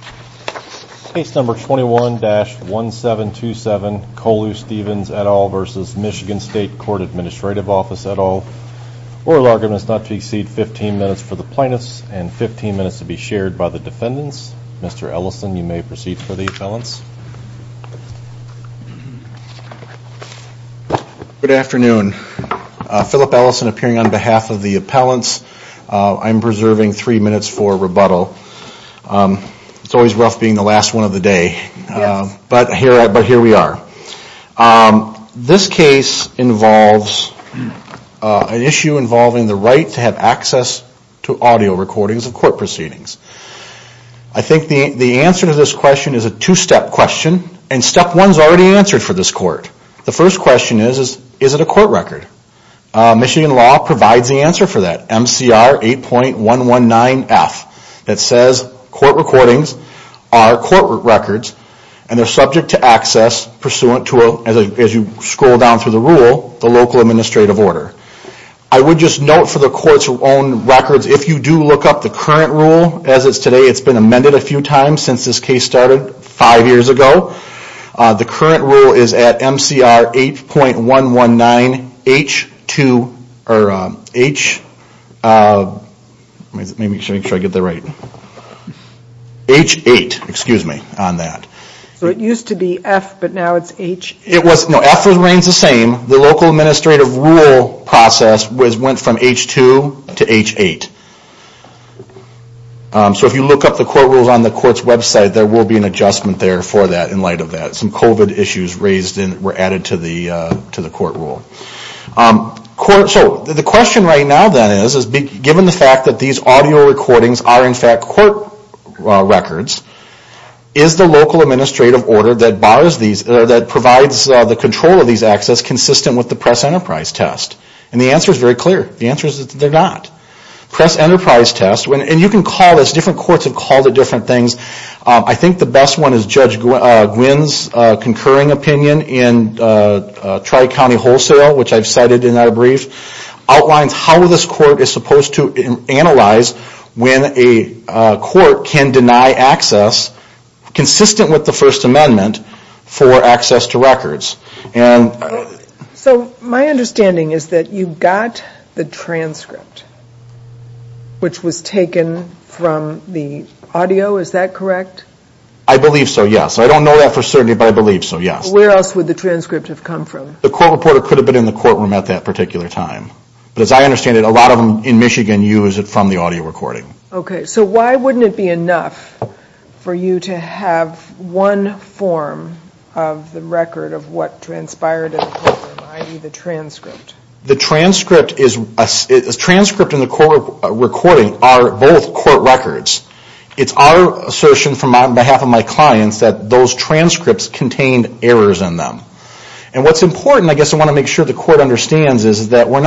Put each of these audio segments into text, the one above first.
At all. Oral argument is not to exceed 15 minutes for the plaintiffs and 15 minutes to be shared by the defendants. Mr. Ellison, you may proceed for the appellants. Good afternoon. Philip Ellison appearing on behalf of the appellants. I'm preserving three minutes for rebuttal. It's a little bit of a long speech, but I'm going to try to keep it short. It's always rough being the last one of the day, but here we are. This case involves an issue involving the right to have access to audio recordings of court proceedings. I think the answer to this question is a two-step question, and step one is already answered for this court. The first question is, is it a court record? Michigan law provides the answer for that. MCR 8.119F that says court recordings are court records and they're subject to access pursuant to, as you scroll down through the rule, the local administrative order. I would just note for the court's own records, if you do look up the current rule as it's today, it's been amended a few times since this case started five years ago. The current rule is at MCR 8.119H2, or H, let me make sure I get that right, H8, excuse me, on that. So it used to be F, but now it's H8? No, F remains the same. The local administrative rule process went from H2 to H8. So if you look up the court rules on the court's website, there will be an adjustment there for that in light of that. Some COVID issues were added to the court rule. So the question right now then is, given the fact that these audio recordings are in fact court records, is the local administrative order that provides the control of these access consistent with the press enterprise test? And the answer is very clear. The answer is that they're not. Press enterprise test, and you can call this, different courts have called it different things. I think the best one is Judge Gwynne's concurring opinion in Tri-County Wholesale, which I've cited in that brief, outlines how this court is supposed to analyze when a court can deny access consistent with the First Amendment for access to records. So my understanding is that you got the transcript, which was taken from the audio, is that correct? I believe so, yes. I don't know that for certain, but I believe so, yes. Where else would the transcript have come from? The court reporter could have been in the courtroom at that particular time. But as I understand it, a lot of them in Michigan use it from the audio recording. Okay, so why wouldn't it be enough for you to have one form of the record of what transpired in the courtroom, i.e. the transcript? The transcript and the court recording are both court records. It's our assertion on behalf of my clients that those transcripts contained errors in them. And what's important, I guess I want to make sure the court understands, is that we're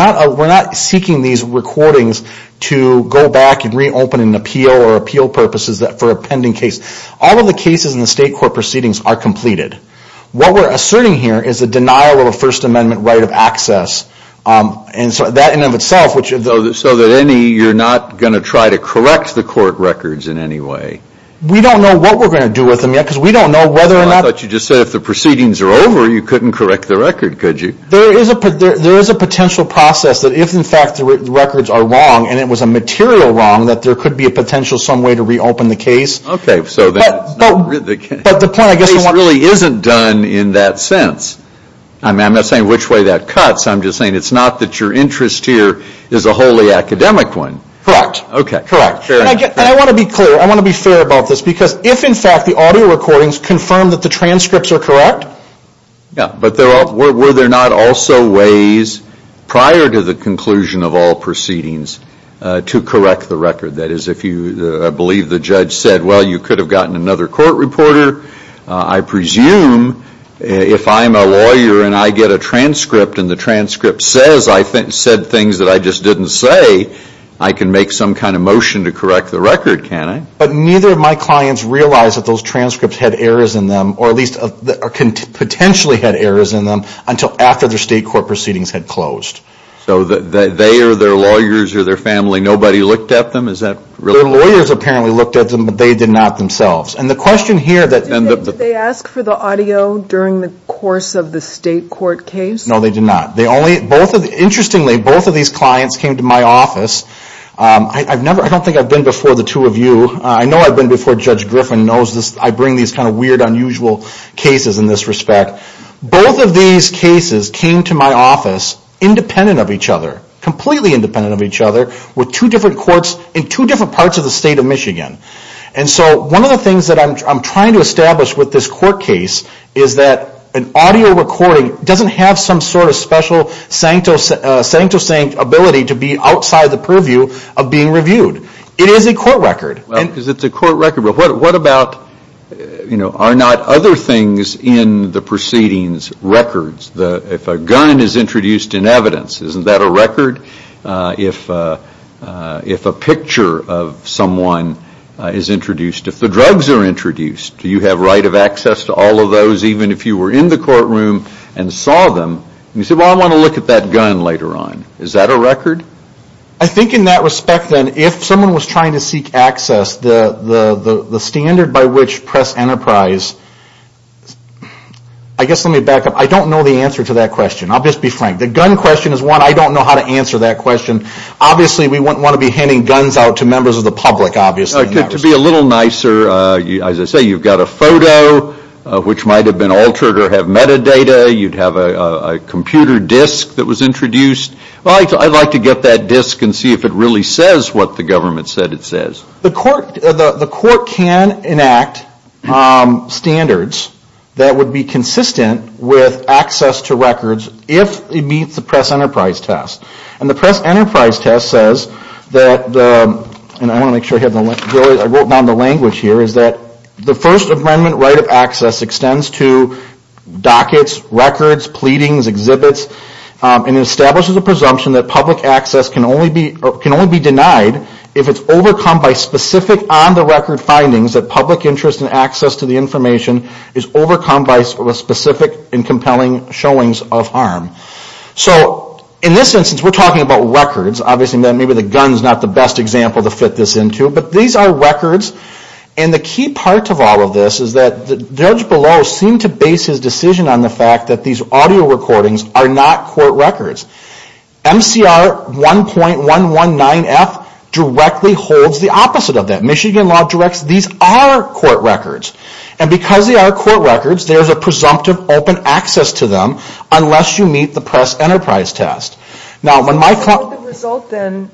not seeking these recordings to go back and reopen an appeal or appeal purposes for a pending case. All of the cases in the state court proceedings are completed. What we're asserting here is the denial of a First Amendment right of access. So you're not going to try to correct the court records in any way? We don't know what we're going to do with them yet, because we don't know whether or not... You couldn't correct the record, could you? There is a potential process that if, in fact, the records are wrong, and it was a material wrong, that there could be a potential some way to reopen the case. Okay, so that's not... But the point, I guess... The case really isn't done in that sense. I'm not saying which way that cuts, I'm just saying it's not that your interest here is a wholly academic one. Correct. Okay. Correct. And I want to be clear, I want to be fair about this, because if, in fact, the audio recordings confirm that the transcripts are correct... Yeah, but were there not also ways prior to the conclusion of all proceedings to correct the record? That is, if you believe the judge said, well, you could have gotten another court reporter, I presume if I'm a lawyer and I get a transcript and the transcript says I said things that I just didn't say, I can make some kind of motion to correct the record, can't I? But neither of my clients realized that those transcripts had errors in them, or at least potentially had errors in them, until after their state court proceedings had closed. So they or their lawyers or their family, nobody looked at them? Is that really... Their lawyers apparently looked at them, but they did not themselves. And the question here that... Did they ask for the audio during the course of the state court case? No, they did not. Interestingly, both of these clients came to my office. I don't think I've been before the two of you. I know I've been before Judge Griffin. I bring these kind of weird, unusual cases in this respect. Both of these cases came to my office independent of each other, completely independent of each other, with two different courts in two different parts of the state of Michigan. And so one of the things that I'm trying to establish with this court case is that an audio recording doesn't have some sort of special sancto-sanct ability to be outside the purview of being reviewed. It is a court record. Well, because it's a court record, but what about... Are not other things in the proceedings records? If a gun is introduced in evidence, isn't that a record? If a picture of someone is introduced, if the drugs are introduced, do you have right of access to all of those, even if you were in the courtroom and saw them? And you say, well, I want to look at that gun later on. Is that a record? I think in that respect, then, if someone was trying to seek access, the standard by which press enterprise... I guess let me back up. I don't know the answer to that question. I'll just be frank. The gun question is one. I don't know how to answer that question. Obviously, we wouldn't want to be handing guns out to members of the public, obviously. To be a little nicer, as I say, you've got a photo, which might have been altered or have metadata. You'd have a computer disk that was introduced. I'd like to get that disk and see if it really says what the government said it says. The court can enact standards that would be consistent with access to records if it meets the press enterprise test. And the press enterprise test says that, and I want to make sure I wrote down the language here, is that the First Amendment right of access extends to dockets, records, pleadings, exhibits, and it establishes a presumption that public access can only be denied if it's overcome by specific on-the-record findings that public interest in access to the information is overcome by specific and compelling showings of harm. So, in this instance, we're talking about records. Obviously, maybe the gun is not the best example to fit this into. But these are records, and the key part of all of this is that the judge below seemed to base his decision on the fact that these audio recordings are not court records. MCR 1.119F directly holds the opposite of that. Michigan Law directs these are court records. And because they are court records, there's a presumptive open access to them unless you meet the press enterprise test. Now, when my co- So, the result then,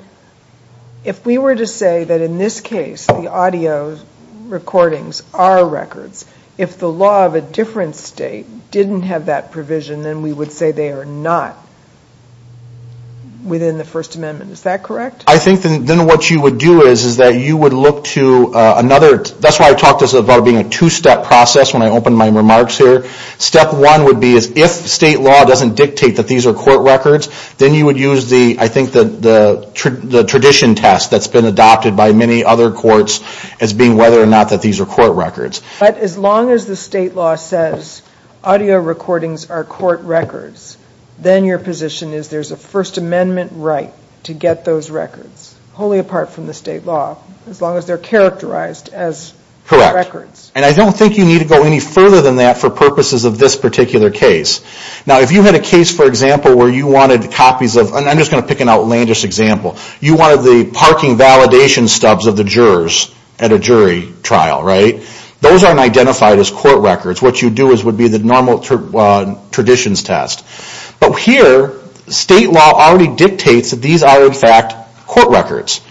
if we were to say that in this case, the audio recordings are records, if the law of a different state didn't have that provision, then we would say they are not within the First Amendment. Is that correct? I think then what you would do is that you would look to another That's why I talked about this being a two-step process when I opened my remarks here. Step one would be if state law doesn't dictate that these are court records, then you would use, I think, the tradition test that's been adopted by many other courts as being whether or not that these are court records. But as long as the state law says audio recordings are court records, then your position is there's a First Amendment right to get those records, wholly apart from the state law, as long as they're characterized as records. Correct. And I don't think you need to go any further than that for purposes of this particular case. Now, if you had a case, for example, where you wanted copies of I'm just going to pick an outlandish example. You wanted the parking validation stubs of the jurors at a jury trial, right? Those aren't identified as court records. What you do would be the normal traditions test. But here, state law already dictates that these are, in fact, court records.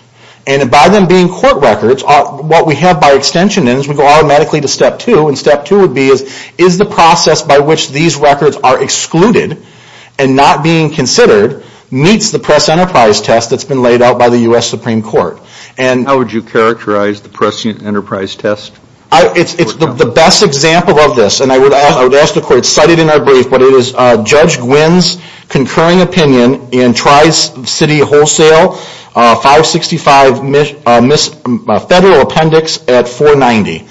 And by them being court records, what we have by extension is we go automatically to step two. And step two would be is the process by which these records are excluded and not being considered meets the press enterprise test that's been laid out by the U.S. Supreme Court. How would you characterize the press enterprise test? It's the best example of this. And I would ask the court to cite it in our brief. But it is Judge Gwynne's concurring opinion in Tri-City Wholesale 565 Federal Appendix at 490.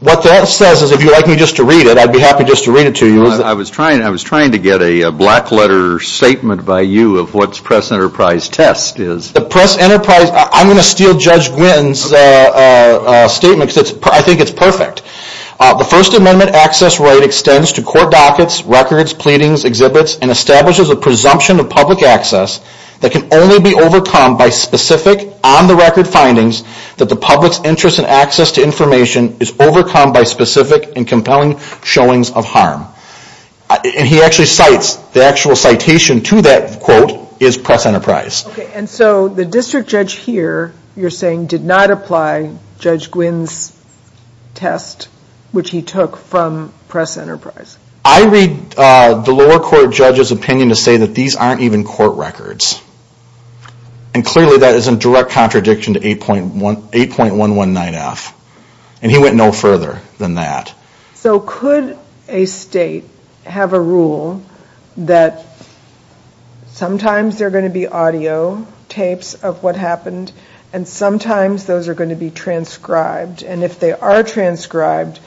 What that says is, if you'd like me just to read it, I'd be happy just to read it to you. I was trying to get a black letter statement by you of what the press enterprise test is. The press enterprise, I'm going to steal Judge Gwynne's statement because I think it's perfect. The First Amendment access right extends to court dockets, records, pleadings, exhibits, and establishes a presumption of public access that can only be overcome by specific, on-the-record findings that the public's interest in access to information is overcome by specific and compelling showings of harm. And he actually cites, the actual citation to that quote is press enterprise. Okay, and so the district judge here, you're saying, did not apply Judge Gwynne's test, which he took from press enterprise. I read the lower court judge's opinion to say that these aren't even court records. And clearly that is in direct contradiction to 8.119F. And he went no further than that. So could a state have a rule that sometimes there are going to be audio tapes of what happened and sometimes those are going to be transcribed. And if they are transcribed,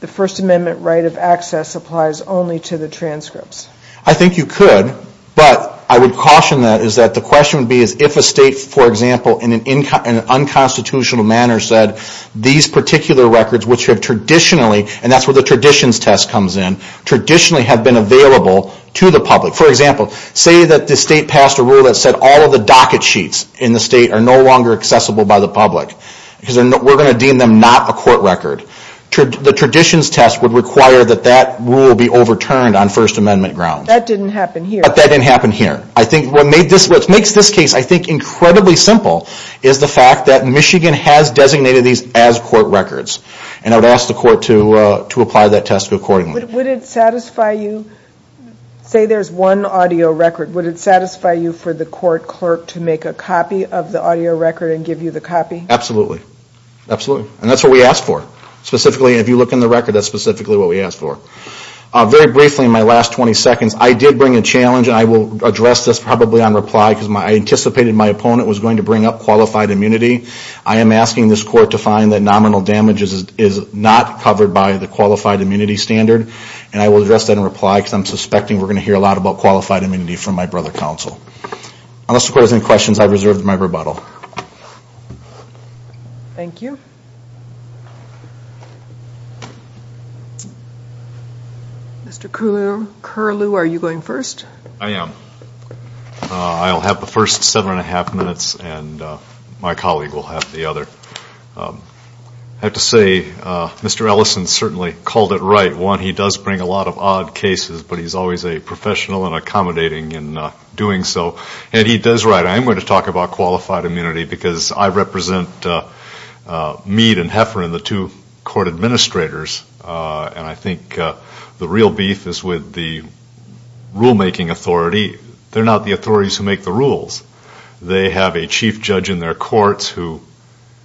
the First Amendment right of access applies only to the transcripts. I think you could, but I would caution that is that the question would be if a state, for example, in an unconstitutional manner said these particular records, which have traditionally, and that's where the traditions test comes in, traditionally have been available to the public. For example, say that the state passed a rule that said all of the docket sheets in the state are no longer accessible by the public, because we're going to deem them not a court record. The traditions test would require that that rule be overturned on First Amendment grounds. That didn't happen here. But that didn't happen here. I think what makes this case, I think, incredibly simple is the fact that Michigan has designated these as court records. And I would ask the court to apply that test accordingly. Would it satisfy you, say there's one audio record, would it satisfy you for the court clerk to make a copy of the audio record and give you the copy? Absolutely. Absolutely. And that's what we ask for. Specifically, if you look in the record, that's specifically what we ask for. Very briefly, in my last 20 seconds, I did bring a challenge, and I will address this probably on reply because I anticipated my opponent was going to bring up qualified immunity. I am asking this court to find that nominal damage is not covered by the qualified immunity standard, and I will address that in reply because I'm suspecting we're going to hear a lot about qualified immunity from my brother counsel. Unless the court has any questions, I've reserved my rebuttal. Thank you. Mr. Curlew, are you going first? I am. I'll have the first seven and a half minutes, and my colleague will have the other. I have to say, Mr. Ellison certainly called it right. One, he does bring a lot of odd cases, but he's always a professional and accommodating in doing so. And he does right. I am going to talk about qualified immunity because I represent Mead and Heffern, the two court administrators, and I think the real beef is with the rulemaking authority. They're not the authorities who make the rules. They have a chief judge in their courts who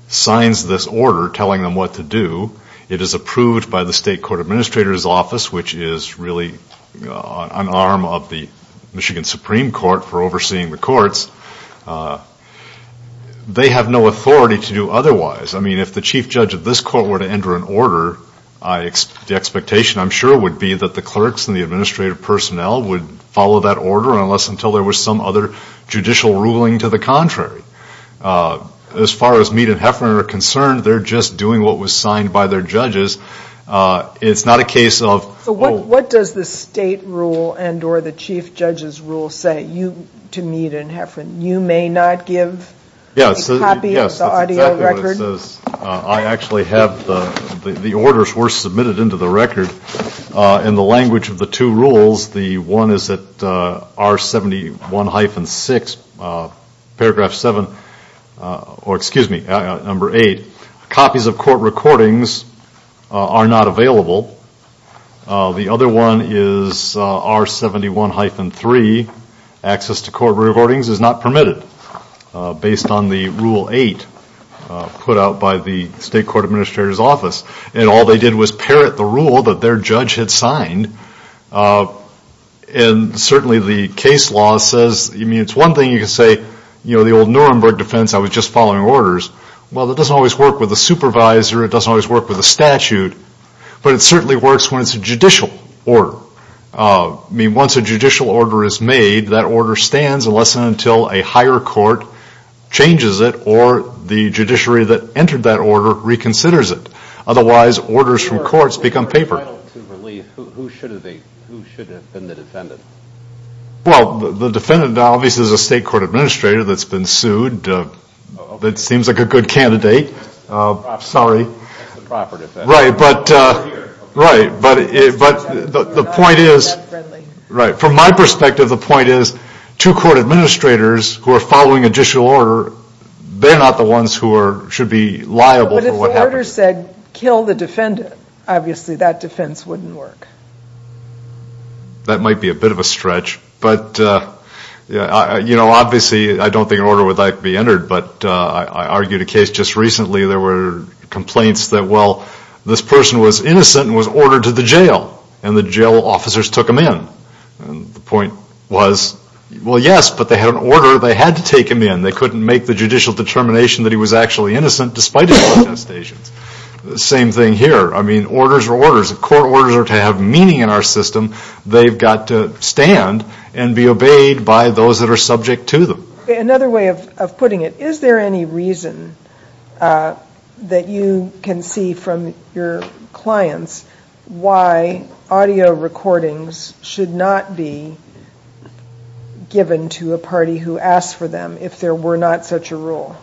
signs this order telling them what to do. It is approved by the state court administrator's office, which is really an arm of the Michigan Supreme Court for overseeing the courts. They have no authority to do otherwise. I mean, if the chief judge of this court were to enter an order, the expectation I'm sure would be that the clerks and the administrative personnel would follow that order, unless until there was some other judicial ruling to the contrary. As far as Mead and Heffern are concerned, they're just doing what was signed by their judges. It's not a case of- So what does the state rule and or the chief judge's rule say to Mead and Heffern? You may not give a copy of the audio record. Yes, that's exactly what it says. I actually have the orders were submitted into the record in the language of the two rules. The one is that R71-6, paragraph 7, or excuse me, number 8, copies of court recordings are not available. The other one is R71-3, access to court recordings is not permitted, based on the rule 8 put out by the state court administrator's office. And all they did was parrot the rule that their judge had signed. And certainly the case law says- I mean, it's one thing you can say, you know, the old Nuremberg defense, I was just following orders. Well, that doesn't always work with a supervisor. It doesn't always work with a statute. But it certainly works when it's a judicial order. I mean, once a judicial order is made, that order stands unless and until a higher court changes it or the judiciary that entered that order reconsiders it. Otherwise, orders from courts become paper. Who should have been the defendant? Well, the defendant obviously is a state court administrator that's been sued. It seems like a good candidate. Sorry. That's the proper defense. Right. But the point is- Right. From my perspective, the point is two court administrators who are following a judicial order, they're not the ones who should be liable for what happened. But if the order said kill the defendant, obviously that defense wouldn't work. That might be a bit of a stretch. But, you know, obviously I don't think an order would like to be entered. But I argued a case just recently. There were complaints that, well, this person was innocent and was ordered to the jail, and the jail officers took him in. The point was, well, yes, but they had an order. They had to take him in. They couldn't make the judicial determination that he was actually innocent despite his attestations. Same thing here. I mean, orders are orders. If court orders are to have meaning in our system, they've got to stand and be obeyed by those that are subject to them. Another way of putting it, is there any reason that you can see from your clients why audio recordings should not be given to a party who asks for them if there were not such a rule?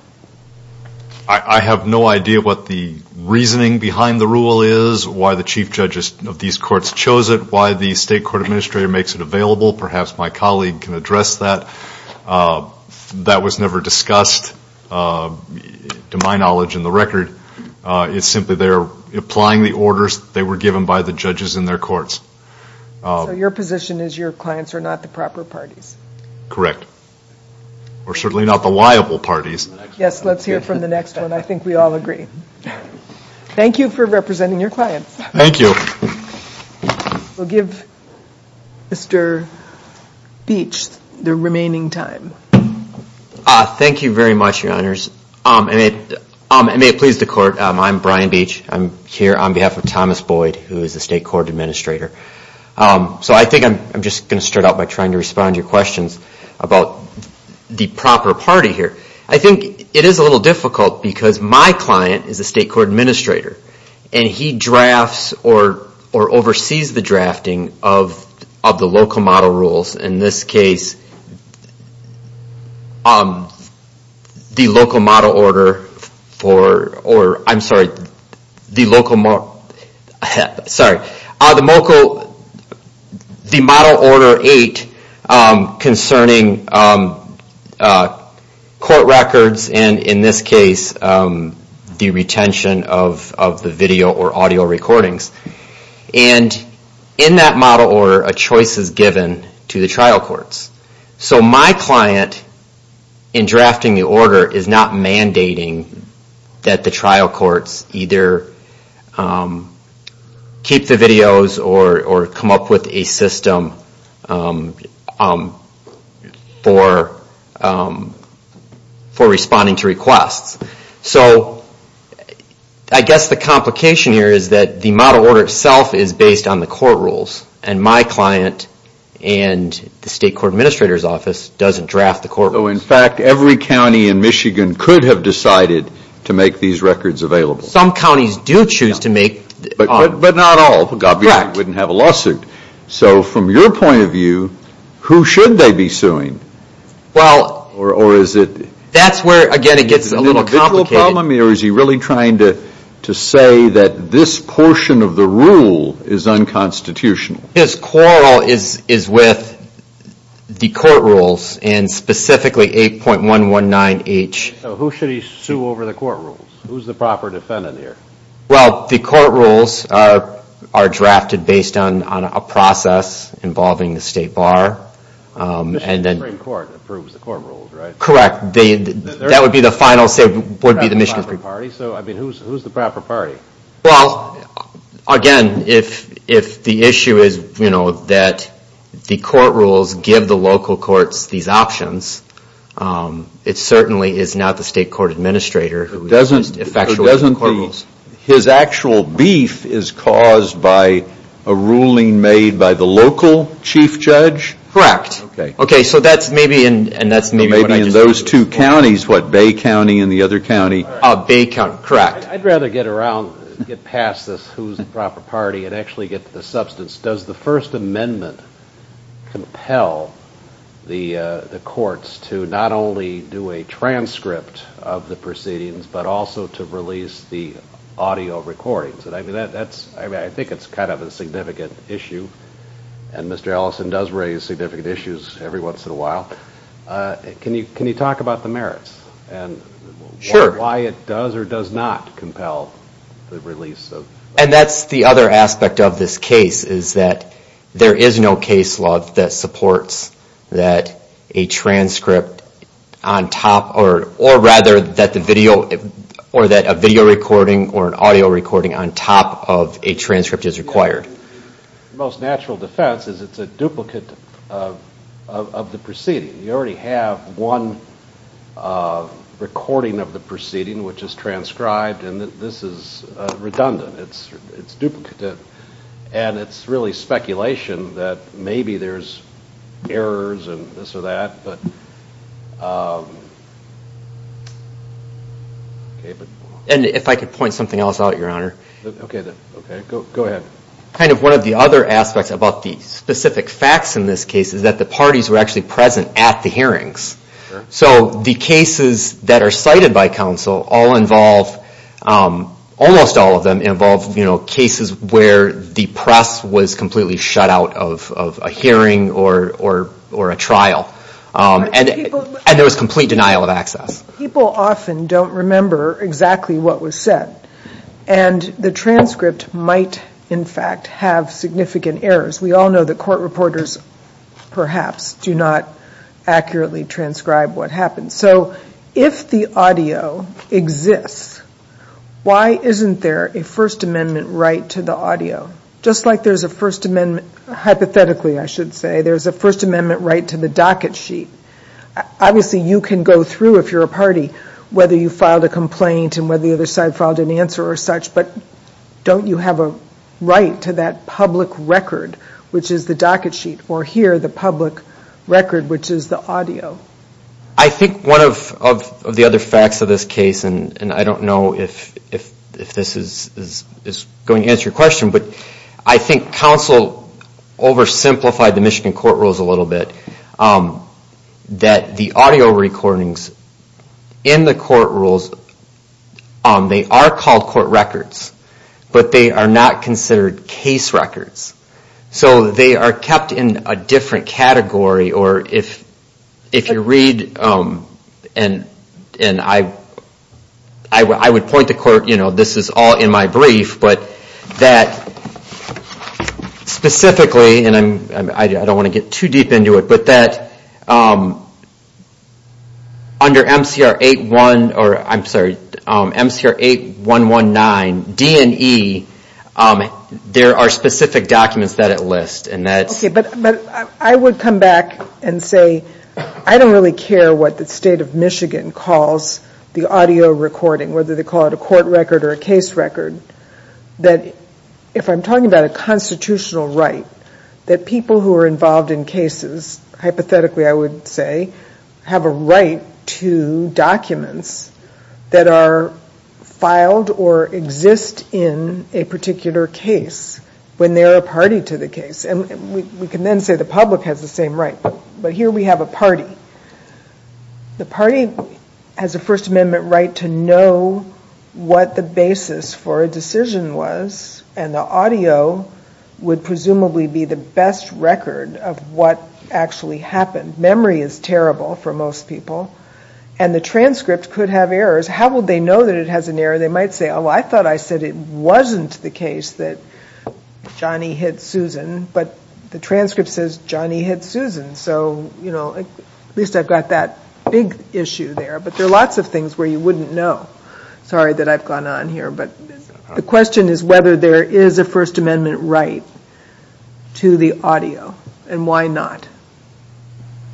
I have no idea what the reasoning behind the rule is, why the chief judges of these courts chose it, why the state court administrator makes it available. Perhaps my colleague can address that. That was never discussed, to my knowledge, in the record. It's simply they're applying the orders that were given by the judges in their courts. So your position is your clients are not the proper parties? Correct. Or certainly not the liable parties. Yes, let's hear from the next one. I think we all agree. Thank you for representing your clients. Thank you. We'll give Mr. Beach the remaining time. Thank you very much, your honors. And may it please the court, I'm Brian Beach. I'm here on behalf of Thomas Boyd, who is the state court administrator. So I think I'm just going to start out by trying to respond to your questions about the proper party here. I think it is a little difficult because my client is a state court administrator. And he drafts or oversees the drafting of the local model rules. In this case, the local model order for, or I'm sorry, the local model, sorry, the local, the model order 8 concerning court records, and in this case, the retention of the video or audio recordings. And in that model order, a choice is given to the trial courts. So my client, in drafting the order, is not mandating that the trial courts either keep the videos or come up with a system for responding to requests. So I guess the complication here is that the model order itself is based on the court rules. And my client and the state court administrator's office doesn't draft the court rules. So in fact, every county in Michigan could have decided to make these records available. Some counties do choose to make. But not all. Correct. Obviously, they wouldn't have a lawsuit. So from your point of view, who should they be suing? Well. Or is it? That's where, again, it gets a little complicated. Is he really trying to say that this portion of the rule is unconstitutional? His quarrel is with the court rules, and specifically 8.119H. So who should he sue over the court rules? Who's the proper defendant here? Well, the court rules are drafted based on a process involving the state bar. Michigan Supreme Court approves the court rules, right? Correct. That would be the final say would be the Michigan Supreme Court. So I mean, who's the proper party? Well, again, if the issue is that the court rules give the local courts these options, it certainly is not the state court administrator who is effectual to the court rules. So doesn't his actual beef is caused by a ruling made by the local chief judge? Correct. Okay. So maybe in those two counties, what, Bay County and the other county? Bay County, correct. I'd rather get around, get past this who's the proper party and actually get to the substance. Does the First Amendment compel the courts to not only do a transcript of the proceedings but also to release the audio recordings? I mean, I think it's kind of a significant issue, and Mr. Ellison does raise significant issues every once in a while. Can you talk about the merits and why it does or does not compel the release? And that's the other aspect of this case is that there is no case law that supports that a transcript on top or rather that a video recording or an audio recording on top of a transcript is required. The most natural defense is it's a duplicate of the proceeding. You already have one recording of the proceeding, which is transcribed, and this is redundant. It's duplicate, and it's really speculation that maybe there's errors and this or that. And if I could point something else out, Your Honor. Okay. Go ahead. Kind of one of the other aspects about the specific facts in this case is that the parties were actually present at the hearings. So the cases that are cited by counsel all involve, almost all of them involve, you know, cases where the press was completely shut out of a hearing or a trial, and there was complete denial of access. People often don't remember exactly what was said, and the transcript might, in fact, have significant errors. We all know that court reporters perhaps do not accurately transcribe what happens. So if the audio exists, why isn't there a First Amendment right to the audio? Just like there's a First Amendment, hypothetically I should say, there's a First Amendment right to the docket sheet. Obviously, you can go through, if you're a party, whether you filed a complaint and whether the other side filed an answer or such, but don't you have a right to that public record, which is the docket sheet, or here, the public record, which is the audio? I think one of the other facts of this case, and I don't know if this is going to answer your question, but I think counsel oversimplified the Michigan court rules a little bit, that the audio recordings in the court rules, they are called court records, but they are not considered case records. So they are kept in a different category, or if you read, and I would point to court, you know, this is all in my brief, but that specifically, and I don't want to get too deep into it, but that under MCR 8119, D&E, there are specific documents that it lists. But I would come back and say, I don't really care what the state of Michigan calls the audio recording, whether they call it a court record or a case record, that if I'm talking about a constitutional right, that people who are involved in cases, hypothetically I would say, have a right to documents that are filed or exist in a particular case when they are a party to the case. And we can then say the public has the same right, but here we have a party. The party has a First Amendment right to know what the basis for a decision was, and the audio would presumably be the best record of what actually happened. Memory is terrible for most people, and the transcript could have errors. How would they know that it has an error? They might say, oh, I thought I said it wasn't the case that Johnny hit Susan, but the transcript says Johnny hit Susan. So, you know, at least I've got that big issue there. But there are lots of things where you wouldn't know. Sorry that I've gone on here, but the question is whether there is a First Amendment right to the audio, and why not?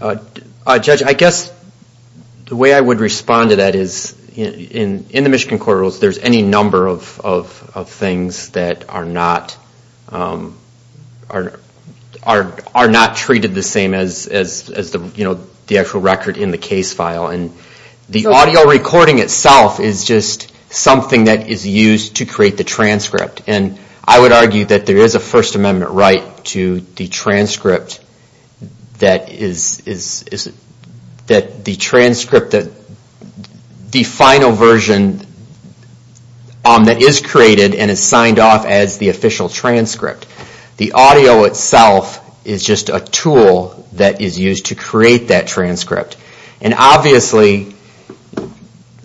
Judge, I guess the way I would respond to that is, in the Michigan Court of Rules, there's any number of things that are not treated the same as the actual record in the case file. And the audio recording itself is just something that is used to create the transcript. And I would argue that there is a First Amendment right to the transcript that the final version that is created and is signed off as the official transcript. The audio itself is just a tool that is used to create that transcript. And obviously,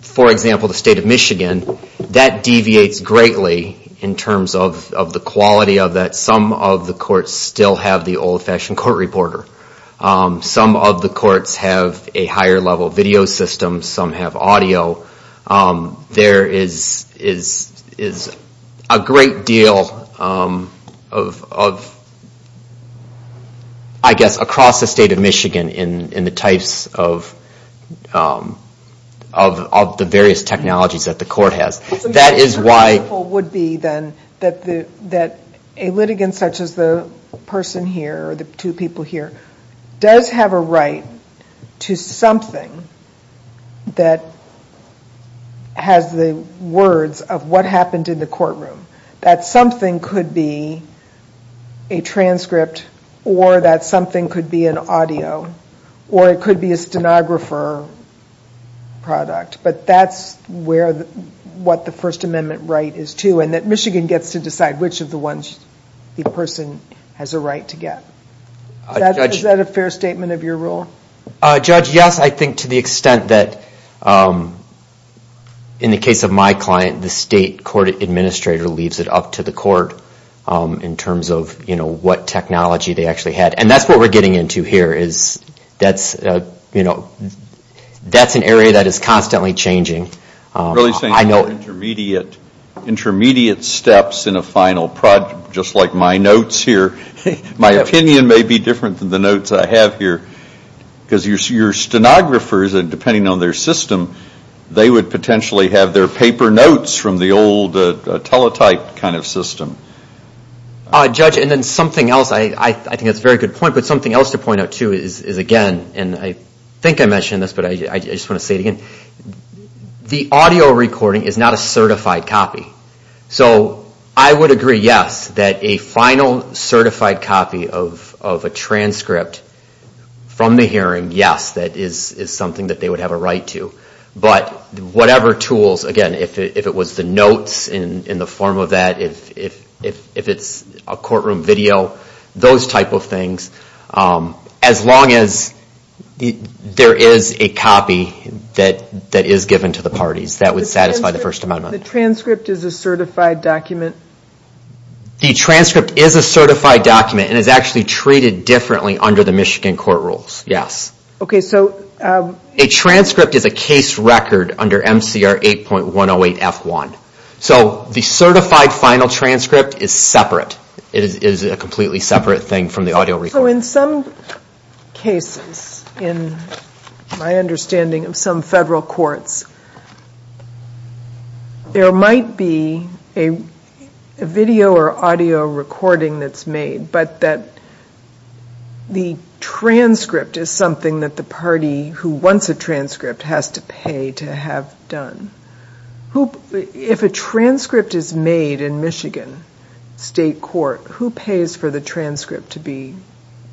for example, the state of Michigan, that deviates greatly in terms of the quality of that. Some of the courts still have the old-fashioned court reporter. Some of the courts have a higher level video system. Some have audio. There is a great deal of, I guess, across the state of Michigan in the types of the various technologies that the court has. What would be, then, that a litigant such as the person here, or the two people here, does have a right to something that has the words of what happened in the courtroom. That something could be a transcript, or that something could be an audio, or it could be a stenographer product. But that is what the First Amendment right is to. And that Michigan gets to decide which of the ones the person has a right to get. Is that a fair statement of your rule? Judge, yes. I think to the extent that, in the case of my client, the state court administrator leaves it up to the court in terms of what technology they actually had. And that is what we are getting into here. That is an area that is constantly changing. Really saying intermediate steps in a final project, just like my notes here. My opinion may be different than the notes I have here. Because your stenographers, depending on their system, they would potentially have their paper notes from the old teletype kind of system. Judge, and then something else, I think that is a very good point, but something else to point out too is again, and I think I mentioned this, but I just want to say it again. The audio recording is not a certified copy. So I would agree, yes, that a final certified copy of a transcript from the hearing, yes, that is something that they would have a right to. But whatever tools, again, if it was the notes in the form of that, if it is a courtroom video, those type of things, as long as there is a copy that is given to the parties, that would satisfy the First Amendment. The transcript is a certified document? The transcript is a certified document and is actually treated differently under the Michigan court rules, yes. A transcript is a case record under MCR 8.108F1. So the certified final transcript is separate. It is a completely separate thing from the audio recording. So in some cases, in my understanding of some federal courts, there might be a video or audio recording that is made, but that the transcript is something that the party who wants a transcript has to pay to have done. If a transcript is made in Michigan State Court, who pays for the transcript to be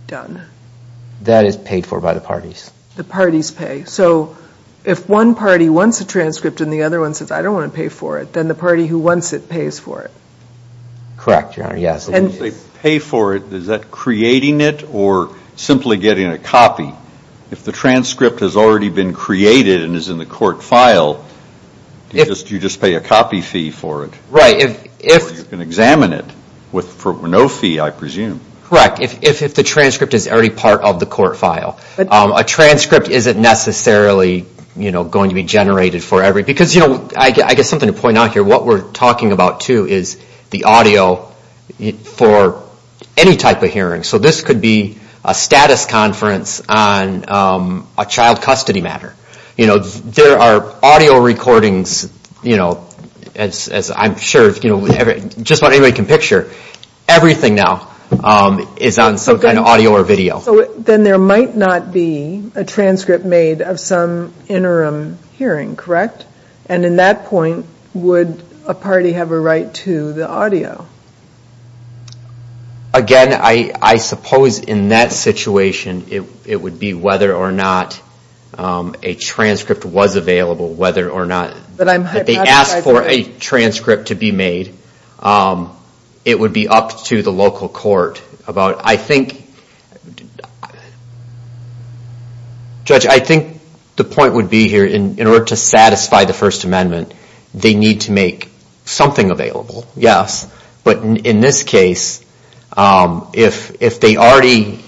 done? That is paid for by the parties. The parties pay. So if one party wants a transcript and the other one says, I don't want to pay for it, then the party who wants it pays for it. Correct, Your Honor, yes. If the transcript has already been created and is in the court file, you just pay a copy fee for it. Right. Or you can examine it for no fee, I presume. Correct. If the transcript is already part of the court file. A transcript isn't necessarily going to be generated for every, because I guess something to point out here, what we're talking about too is the audio for any type of hearing. So this could be a status conference on a child custody matter. There are audio recordings, as I'm sure just about anybody can picture, everything now is on some kind of audio or video. Then there might not be a transcript made of some interim hearing, correct? And in that point, would a party have a right to the audio? Again, I suppose in that situation it would be whether or not a transcript was available, whether or not they asked for a transcript to be made, it would be up to the local court. I think, Judge, I think the point would be here, in order to satisfy the First Amendment, they need to make something available. Yes. But in this case, if they're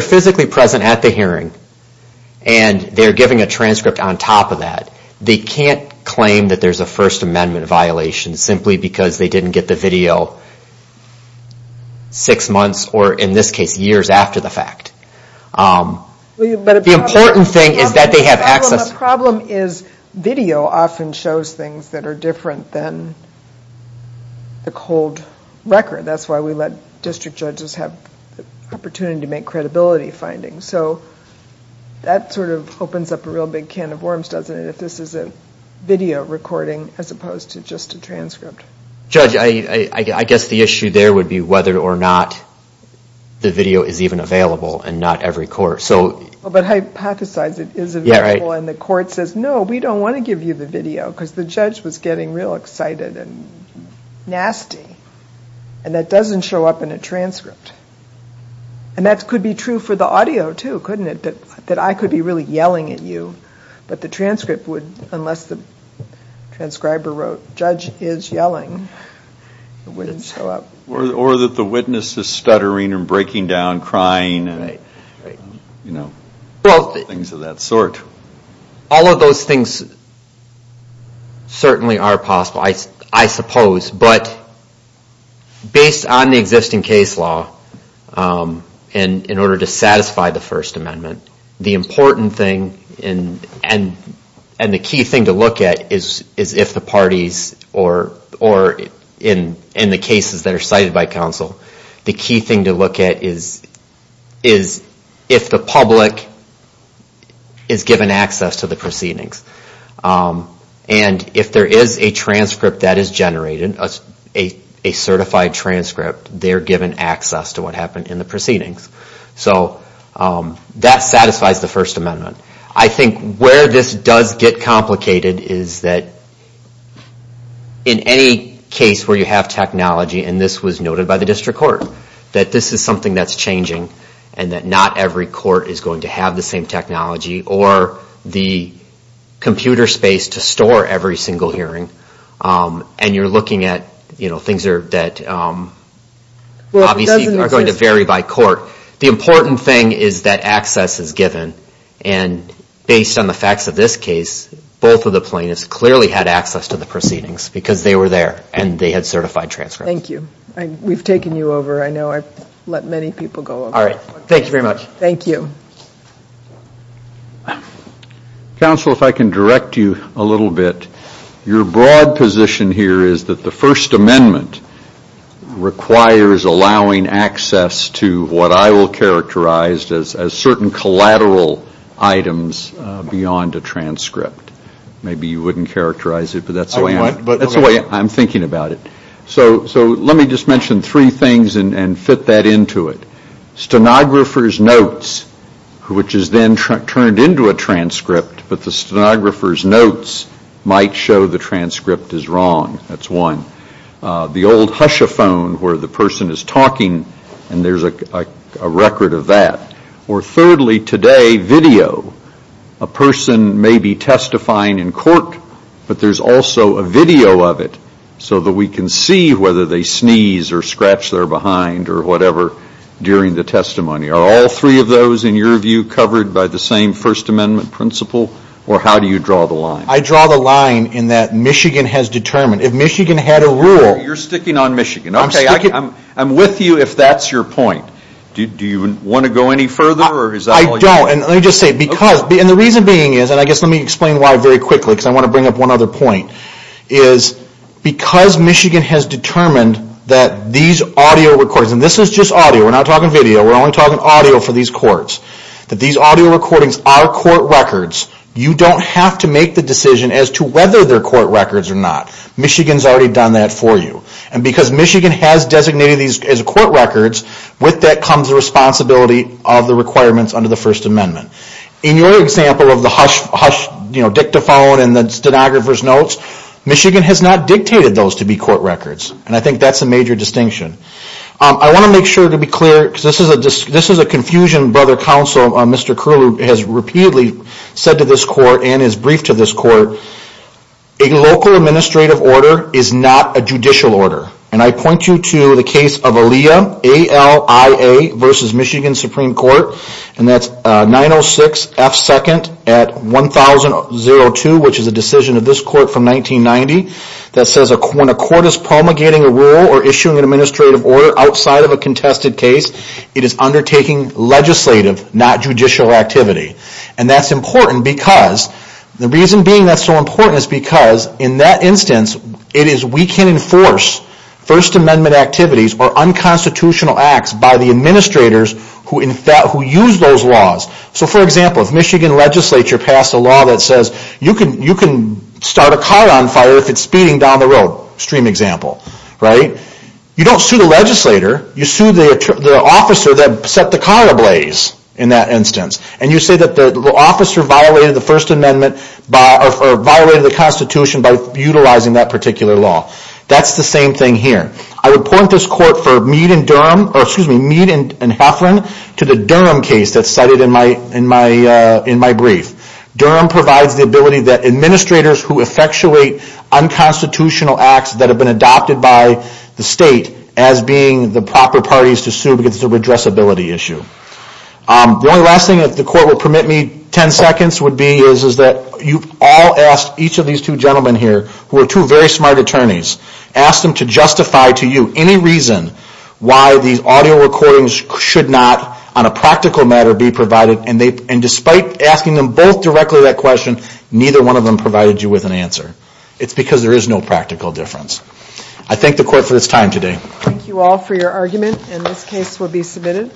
physically present at the hearing and they're giving a transcript on top of that, they can't claim that there's a First Amendment violation simply because they didn't get the video six months, or in this case, years after the fact. The important thing is that they have access. The problem is video often shows things that are different than the cold record. That's why we let district judges have the opportunity to make credibility findings. So that sort of opens up a real big can of worms, doesn't it, if this is a video recording as opposed to just a transcript. Judge, I guess the issue there would be whether or not the video is even available and not every court. But hypothesize it is available and the court says, no, we don't want to give you the video because the judge was getting real excited and nasty, and that doesn't show up in a transcript. And that could be true for the audio, too, couldn't it, that I could be really yelling at you, but the transcript would, unless the transcriber wrote, Judge is yelling, it wouldn't show up. Or that the witness is stuttering and breaking down, crying, and things of that sort. All of those things certainly are possible, I suppose. But based on the existing case law, in order to satisfy the First Amendment, the important thing and the key thing to look at is if the parties or in the cases that are cited by counsel, the key thing to look at is if the public is given access to the proceedings. And if there is a transcript that is generated, a certified transcript, they're given access to what happened in the proceedings. So that satisfies the First Amendment. I think where this does get complicated is that in any case where you have technology, and this was noted by the district court, that this is something that's changing, and that not every court is going to have the same technology or the computer space to store every single hearing. And you're looking at things that obviously are going to vary by court. The important thing is that access is given, and based on the facts of this case, both of the plaintiffs clearly had access to the proceedings because they were there and they had certified transcripts. Thank you. We've taken you over. I know I've let many people go over. All right. Thank you very much. Thank you. Counsel, if I can direct you a little bit. Your broad position here is that the First Amendment requires allowing access to what I will characterize as certain collateral items beyond a transcript. Maybe you wouldn't characterize it, but that's the way I'm thinking about it. So let me just mention three things and fit that into it. Stenographer's notes, which is then turned into a transcript, but the stenographer's notes might show the transcript is wrong. That's one. The old hush-a-phone where the person is talking and there's a record of that. Or thirdly, today, video. A person may be testifying in court, but there's also a video of it so that we can see whether they sneeze or scratch their behind or whatever during the testimony. Are all three of those, in your view, covered by the same First Amendment principle, or how do you draw the line? I draw the line in that Michigan has determined. If Michigan had a rule... You're sticking on Michigan. I'm with you if that's your point. Do you want to go any further? I don't. And let me just say, because... And the reason being is, and I guess let me explain why very quickly because I want to bring up one other point, is because Michigan has determined that these audio recordings, and this is just audio, we're not talking video, we're only talking audio for these courts, that these audio recordings are court records, you don't have to make the decision as to whether they're court records or not. Michigan's already done that for you. And because Michigan has designated these as court records, with that comes the responsibility of the requirements under the First Amendment. In your example of the hush dictaphone and the stenographer's notes, Michigan has not dictated those to be court records, and I think that's a major distinction. I want to make sure to be clear, because this is a confusion Brother Counsel, Mr. Curlew, has repeatedly said to this court and is briefed to this court, a local administrative order is not a judicial order. And I point you to the case of Alia, A-L-I-A versus Michigan Supreme Court, and that's 906 F. 2nd at 1002, which is a decision of this court from 1990, that says when a court is promulgating a rule or issuing an administrative order outside of a contested case, it is undertaking legislative, not judicial activity. And that's important because, the reason being that's so important is because in that instance, it is we can enforce First Amendment activities or unconstitutional acts by the administrators who use those laws. So for example, if Michigan legislature passed a law that says you can start a car on fire if it's speeding down the road, extreme example, right? You don't sue the legislator, you sue the officer that set the car ablaze in that instance. And you say that the officer violated the Constitution by utilizing that particular law. That's the same thing here. I would point this court for Mead and Heflin to the Durham case that's cited in my brief. Durham provides the ability that administrators who effectuate unconstitutional acts that have been adopted by the state as being the proper parties to sue because it's a redressability issue. The only last thing that the court will permit me 10 seconds would be is that you've all asked each of these two gentlemen here, who are two very smart attorneys, asked them to justify to you any reason why these audio recordings should not, on a practical matter, be provided. And despite asking them both directly that question, neither one of them provided you with an answer. It's because there is no practical difference. I thank the court for its time today. Thank you all for your argument. And this case will be submitted.